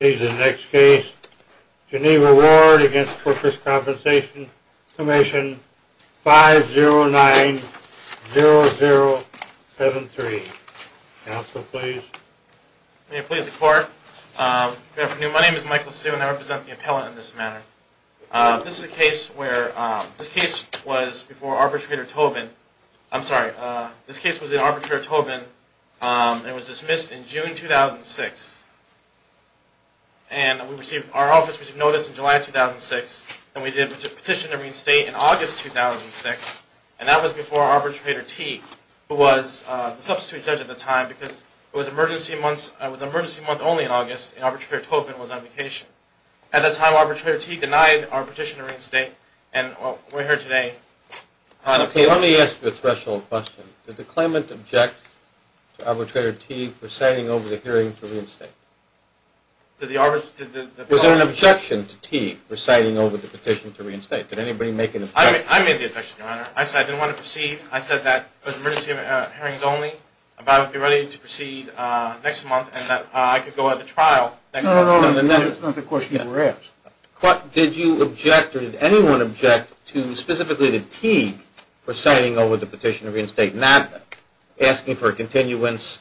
Please, the next case, Geneva Ward v. Workers' Compensation Comm'n, 5090073. Counsel, please. May it please the court. Good afternoon. My name is Michael Sue and I represent the appellant in this matter. This is a case where, this case was before Arbitrator Tobin, I'm sorry, this case was in Arbitrator Tobin and it was dismissed in June 2006. And we received, our office received notice in July 2006 and we did petition to reinstate in August 2006 and that was before Arbitrator Teague, who was the substitute judge at the time because it was an emergency month only in August and Arbitrator Tobin was on vacation. At that time Arbitrator Teague denied our petition to reinstate Let me ask you a threshold question. Did the claimant object to Arbitrator Teague reciting over the hearing to reinstate? Was there an objection to Teague reciting over the petition to reinstate? Did anybody make an objection? I made the objection, Your Honor. I said I didn't want to proceed. I said that it was an emergency hearings only, that I would be ready to proceed next month and that I could go at the trial next month. That's not the question you were asked. Did you object or did anyone object to specifically to Teague reciting over the petition to reinstate, not asking for a continuance?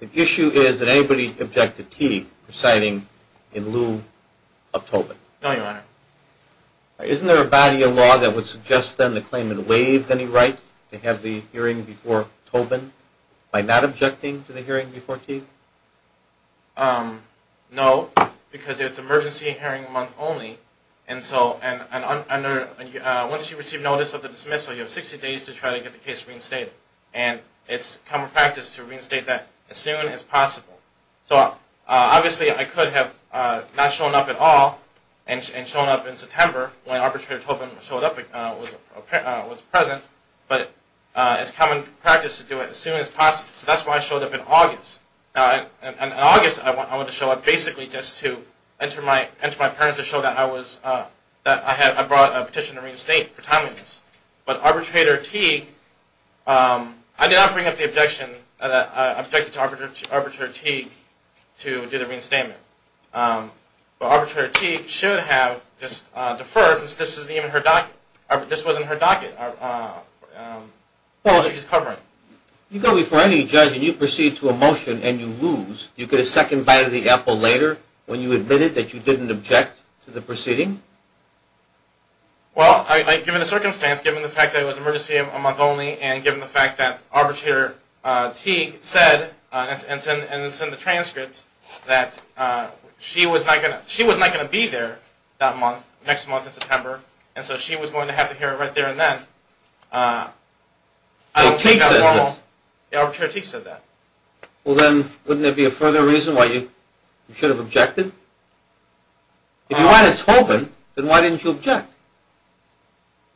The issue is did anybody object to Teague reciting in lieu of Tobin? No, Your Honor. Isn't there a body of law that would suggest then the claimant waived any right to have the hearing before Tobin by not objecting to the hearing before Teague? No, because it's an emergency hearing month only. Once you receive notice of the dismissal, you have 60 days to try to get the case reinstated. It's common practice to reinstate that as soon as possible. Obviously, I could have not shown up at all and shown up in September when Arbitrator Tobin showed up and was present, but it's common practice to do it as soon as possible. So that's why I showed up in August. In August, I went to show up basically just to enter my parents to show that I brought a petition to reinstate for timeliness. But Arbitrator Teague, I did not bring up the objection that I objected to Arbitrator Teague to do the reinstatement. Arbitrator Teague should have deferred since this was in her docket that she was covering. You go before any judge and you proceed to a motion and you lose. You get a second bite of the apple later when you admitted that you didn't object to the proceeding? Well, given the circumstance, given the fact that it was an emergency hearing month only, and given the fact that Arbitrator Teague said, and it's in the transcript, that she was not going to be there that month, next month in September, and so she was going to have to hear it right there and then, I don't think that's normal. Arbitrator Teague said that. Well then, wouldn't there be a further reason why you should have objected? If you're Arbitrator Tobin, then why didn't you object?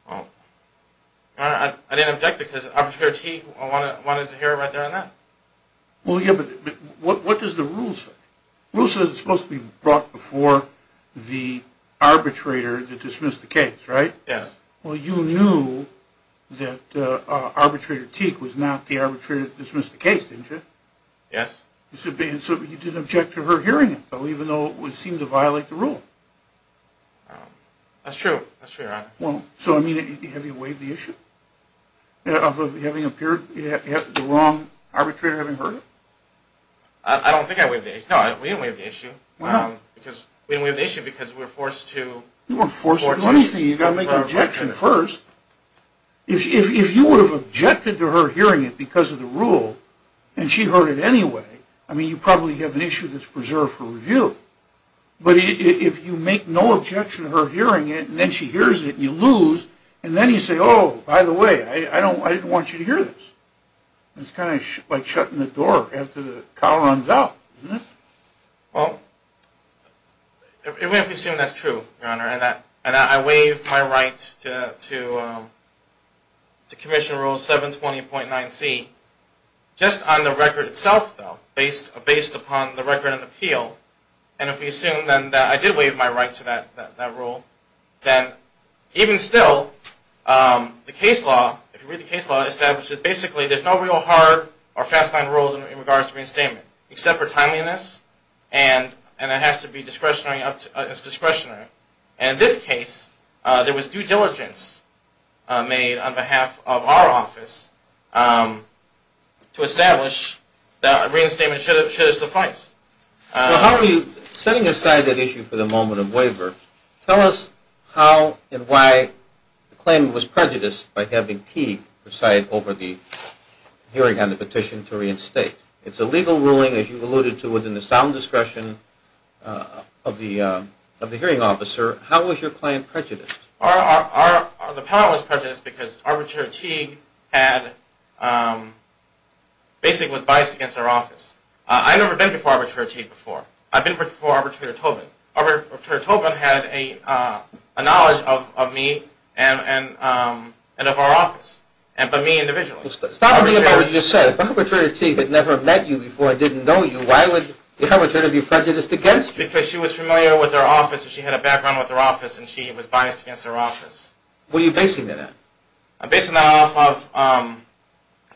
Well, I didn't object because Arbitrator Teague wanted to hear it right there and then. Well, yeah, but what does the rule say? The rule says it's supposed to be brought before the arbitrator to dismiss the case, right? Yes. Well, you knew that Arbitrator Teague was not the arbitrator to dismiss the case, didn't you? Yes. So you didn't object to her hearing it, even though it seemed to violate the rule? That's true. That's true, Your Honor. So, I mean, have you waived the issue? Of having appeared, the wrong arbitrator having heard it? I don't think I waived the issue. No, we didn't waive the issue. Why not? Because we didn't waive the issue because we were forced to... You weren't forced to do anything. You've got to make an objection first. If you would have objected to her hearing it because of the rule, and she heard it anyway, I mean, you probably have an issue that's preserved for review. But if you make no objection to her hearing it, and then she hears it and you lose, and then you say, oh, by the way, I didn't want you to hear this. It's kind of like shutting the door after the cow runs out, isn't it? Well, if we assume that's true, Your Honor, and I waive my right to Commission Rule 720.9c, just on the record itself, though, based upon the record of appeal, and if we assume then that I did waive my right to that rule, then even still, the case law, if you read the case law, establishes basically there's no real hard or fast-line rules in regards to reinstatement, except for timeliness, and it has to be discretionary. And in this case, there was due diligence made on behalf of our office to establish that a reinstatement should have sufficed. Well, how are you setting aside that issue for the moment of waiver? Tell us how and why the claim was prejudiced by having Teague preside over the hearing on the petition to reinstate. It's a legal ruling, as you alluded to, within the sound discretion of the hearing officer. How was your claim prejudiced? The power was prejudiced because Arbitrator Teague basically was biased against our office. I've never been before Arbitrator Teague before. I've been before Arbitrator Tobin. Arbitrator Tobin had a knowledge of me and of our office, but me individually. Stop being about what you just said. If Arbitrator Teague had never met you before and didn't know you, why would the Arbitrator be prejudiced against you? Because she was familiar with our office, and she had a background with our office, and she was biased against our office. What are you basing that on? I'm basing that off of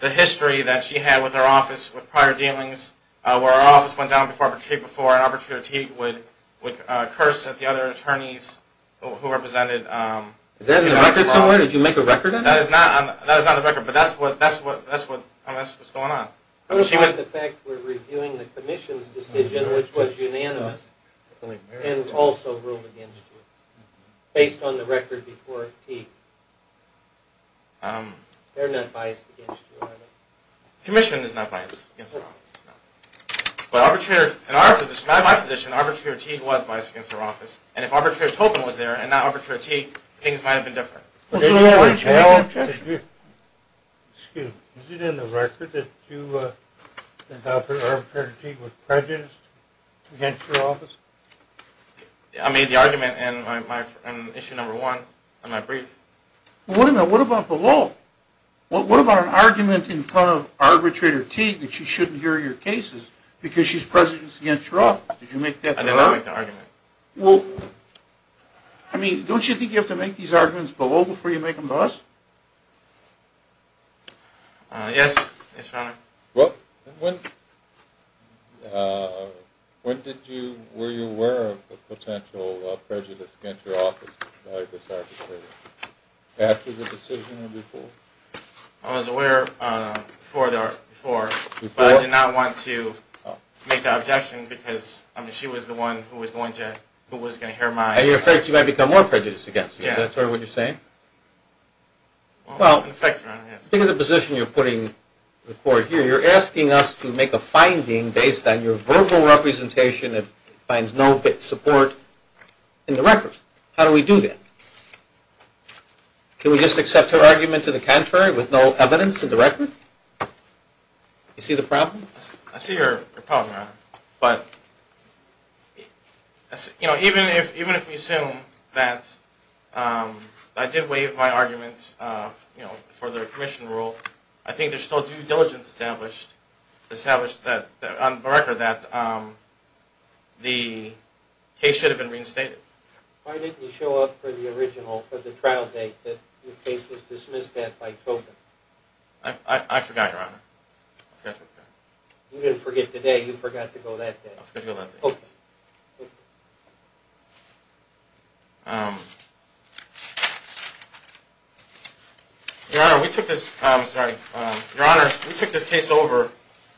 the history that she had with our office with prior dealings, where our office went down before Arbitrator Teague before, and Arbitrator Teague would curse at the other attorneys who represented. Is that in the record somewhere? Did you make a record of that? No, that is not in the record, but that's what's going on. I'm talking about the fact we're reviewing the Commission's decision, which was unanimous, and also ruled against you based on the record before Teague. They're not biased against you, are they? Commission is not biased against our office. But in my position, Arbitrator Teague was biased against our office, and if Arbitrator Tobin was there and not Arbitrator Teague, things might have been different. Excuse me, is it in the record that you adopted Arbitrator Teague was prejudiced against your office? I made the argument in issue number one of my brief. Well, what about below? What about an argument in front of Arbitrator Teague that she shouldn't hear your cases because she's prejudiced against your office? Did you make that? I did not make that argument. Well, I mean, don't you think you have to make these arguments below before you make them to us? Yes, Your Honor. Well, when did you, were you aware of the potential prejudice against your office by this arbitrator? After the decision or before? I was aware before, but I did not want to make that objection because, I mean, Arbitrator Teague was the one who was going to hear my... And you're afraid she might become more prejudiced against you. Is that sort of what you're saying? Well, in the position you're putting the court here, you're asking us to make a finding based on your verbal representation that finds no support in the record. How do we do that? Can we just accept her argument to the contrary with no evidence in the record? You see the problem? I see your problem, Your Honor. But, you know, even if we assume that I did waive my argument for the commission rule, I think there's still due diligence established on the record that the case should have been reinstated. Why didn't you show up for the original, for the trial date that the case was dismissed at by Tobin? I forgot, Your Honor. You didn't forget today. You forgot to go that day. I forgot to go that day. Okay. Your Honor, we took this case over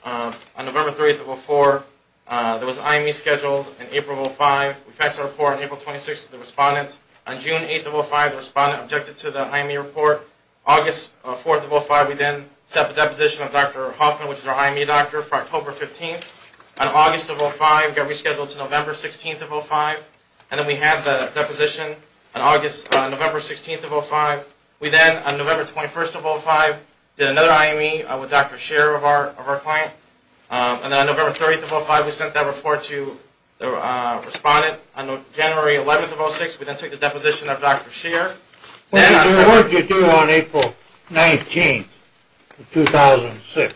on November 3, 2004. There was an IME scheduled in April of 2005. We passed the report on April 26 to the respondents. On June 8, 2005, the respondent objected to the IME report. August 4, 2005, we then set the deposition of Dr. Hoffman, which is our IME doctor, for October 15. On August 5, we got rescheduled to November 16, 2005. And then we had the deposition on November 16, 2005. We then, on November 21, 2005, did another IME with Dr. Sher of our client. And then on November 30, 2005, we sent that report to the respondent. On January 11, 2006, we then took the deposition of Dr. Sher. What did you do on April 19, 2006?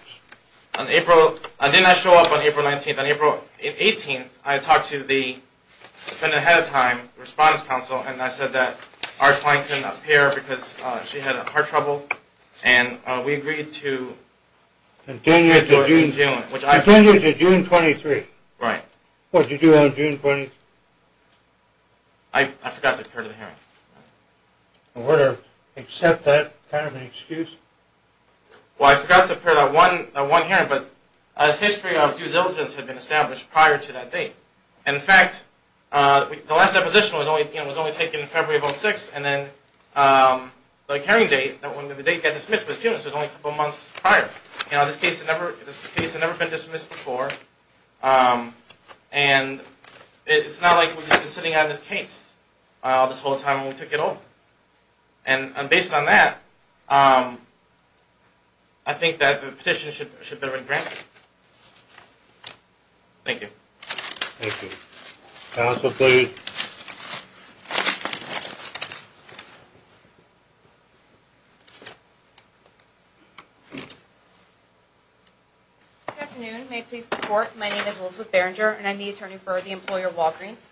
I did not show up on April 19. On April 18, I talked to the defendant ahead of time, the response counsel, and I said that our client couldn't appear because she had heart trouble. And we agreed to continue to June 23. Right. What did you do on June 20? I forgot to appear to the hearing. Were there except that kind of an excuse? Well, I forgot to appear at one hearing, but a history of due diligence had been established prior to that date. And, in fact, the last deposition was only taken in February of 2006. And then the hearing date, when the date got dismissed was June, so it was only a couple months prior. You know, this case had never been dismissed before, and it's not like we've just been sitting on this case this whole time when we took it over. And based on that, I think that the petition should better be granted. Thank you. Thank you. Counsel, please. Good afternoon. May it please the Court, my name is Elizabeth Berenger, and I'm the attorney for the employer Walgreens.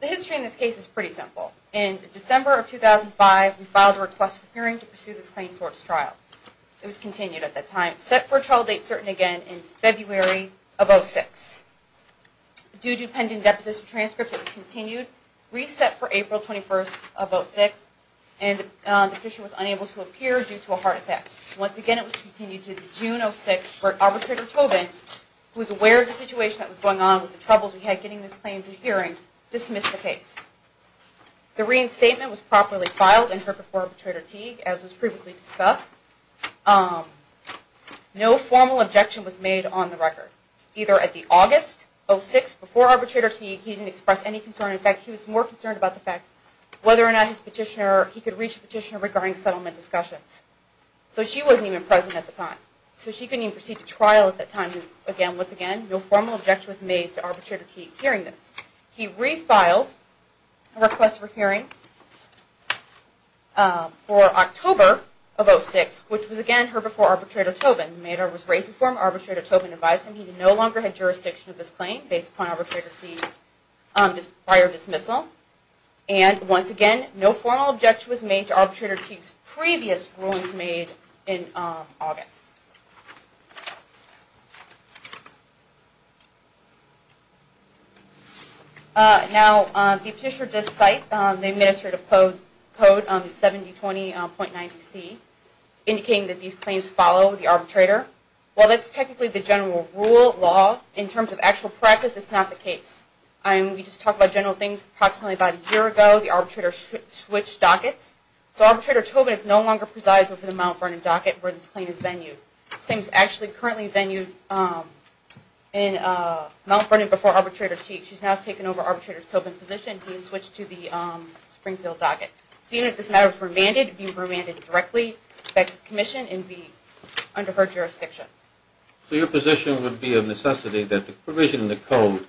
The history in this case is pretty simple. In December of 2005, we filed a request for hearing to pursue this claim for its trial. It was continued at that time, set for a trial date certain again in February of 2006. Due to pending deposition transcripts, it was continued, reset for April 21st of 2006, and the petition was unable to appear due to a heart attack. Once again, it was continued to June of 2006 where Arbitrator Tobin, who was aware of the situation that was going on with the troubles we had getting this claim to the hearing, dismissed the case. The reinstatement was properly filed in court before Arbitrator Teague, as was previously discussed. No formal objection was made on the record. Either at the August of 2006, before Arbitrator Teague, he didn't express any concern. In fact, he was more concerned about the fact whether or not he could reach a petitioner regarding settlement discussions. So she wasn't even present at the time. So she couldn't even proceed to trial at that time. Again, once again, no formal objection was made to Arbitrator Teague hearing this. He refiled a request for hearing for October of 2006, which was again heard before Arbitrator Tobin. The matter was raised before Arbitrator Tobin advised him he no longer had jurisdiction of this claim based upon Arbitrator Teague's prior dismissal. And once again, no formal objection was made to Arbitrator Teague's previous rulings made in August. Now, the petitioner does cite the administrative code 7020.90C, indicating that these claims follow the arbitrator. While that's technically the general rule of law, in terms of actual practice, it's not the case. We just talked about general things approximately about a year ago. The arbitrator switched dockets. So Arbitrator Tobin no longer presides over the Mount Vernon docket where this claim is venue. This claim is actually currently venue in Mount Vernon before Arbitrator Teague. She's now taken over Arbitrator Tobin's position. He's switched to the Springfield docket. So even if this matter was remanded, it would be remanded directly back to the commission and be under her jurisdiction. So your position would be of necessity that the provision in the code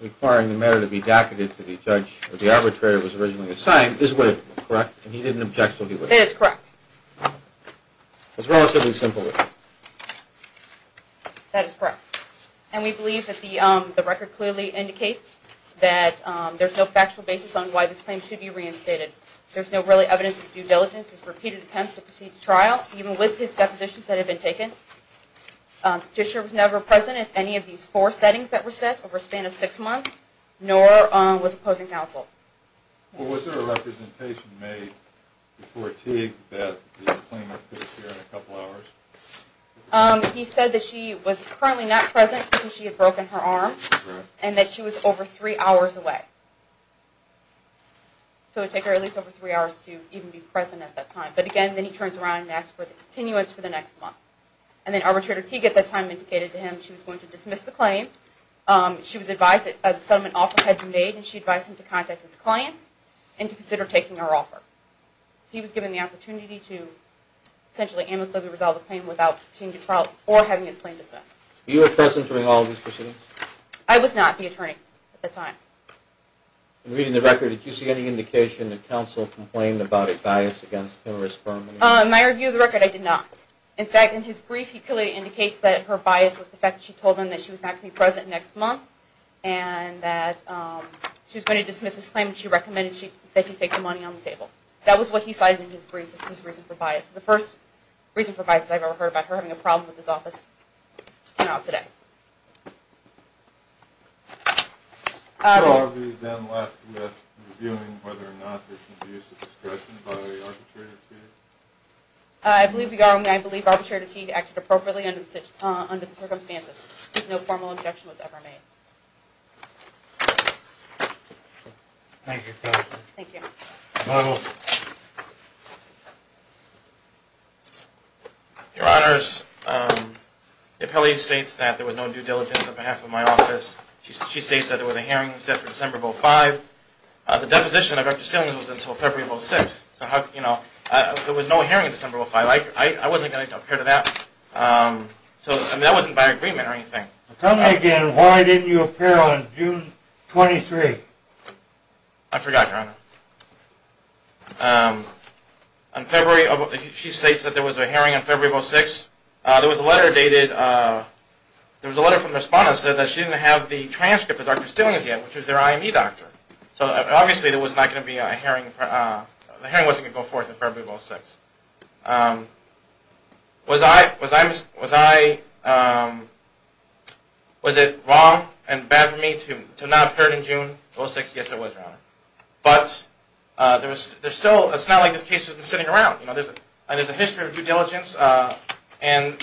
requiring the matter to be docketed to the judge where the arbitrator was originally assigned is with, correct? And he didn't object until he was. It is correct. It's relatively simple. That is correct. And we believe that the record clearly indicates that there's no factual basis on why this claim should be reinstated. There's no really evidence of due diligence, of repeated attempts to proceed to trial, even with his depositions that have been taken. Disher was never present at any of these four settings that were set over a span of six months, nor was opposing counsel. Well, was there a representation made before Teague that the claimant could appear in a couple hours? He said that she was currently not present because she had broken her arm and that she was over three hours away. So it would take her at least over three hours to even be present at that time. But again, then he turns around and asks for the continuance for the next month. And then Arbitrator Teague at that time indicated to him she was going to dismiss the claim. She was advised that a settlement offer had been made, and she advised him to contact his client and to consider taking her offer. He was given the opportunity to essentially amicably resolve the claim without changing trial or having his claim dismissed. Were you present during all of these proceedings? I was not the attorney at that time. In reading the record, did you see any indication that counsel complained about a bias against him or his firm? In my review of the record, I did not. In fact, in his brief, he clearly indicates that her bias was the fact that she told him that she was not going to be present next month and that she was going to dismiss his claim and she recommended that he take the money on the table. That was what he cited in his brief as his reason for bias. The first reason for bias I've ever heard about her having a problem with his office came out today. So are we then left with reviewing whether or not there's an abuse of discretion by Arbitrator Teague? I believe we are, and I believe Arbitrator Teague acted appropriately under the circumstances. No formal objection was ever made. Your Honors, the appellee states that there was no due diligence on behalf of my office. She states that there was a hearing set for December of 2005. The deposition of Dr. Stillings was until February of 2006. There was no hearing in December of 2005. I wasn't going to appear to that. That wasn't by agreement or anything. Tell me again, why didn't you appear on June 23? I forgot, Your Honor. She states that there was a hearing on February of 2006. There was a letter from the respondent that said that she didn't have the transcript of Dr. Stillings yet, which was their IME doctor. Obviously, the hearing wasn't going to go forth until February of 2006. Was it wrong and bad for me to not appear in June of 2006? Yes, it was, Your Honor. But it's not like this case has been sitting around. There's a history of due diligence and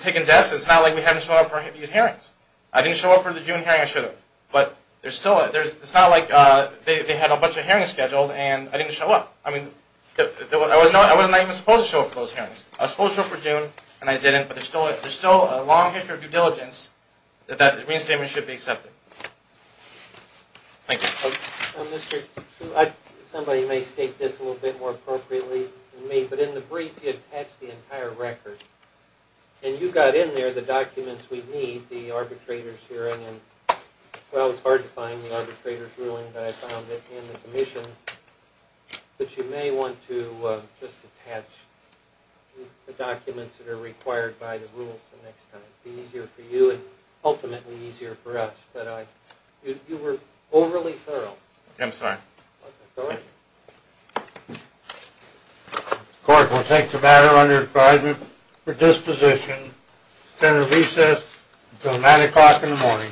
taking steps. It's not like we haven't shown up for these hearings. I didn't show up for the June hearing. I should have. But it's not like they had a bunch of hearings scheduled and I didn't show up. I mean, I was not even supposed to show up for those hearings. I was supposed to show up for June, and I didn't, but there's still a long history of due diligence that that re-instatement should be accepted. Thank you. Somebody may state this a little bit more appropriately than me, but in the brief, you attach the entire record. And you got in there the documents we need, the arbitrator's hearing. Well, it's hard to find the arbitrator's ruling, but I found it in the submission. But you may want to just attach the documents that are required by the rules the next time. It would be easier for you and ultimately easier for us. But you were overly thorough. I'm sorry. Go ahead. Thank you. The court will take the matter under advisement for disposition, extended recess until 9 o'clock in the morning.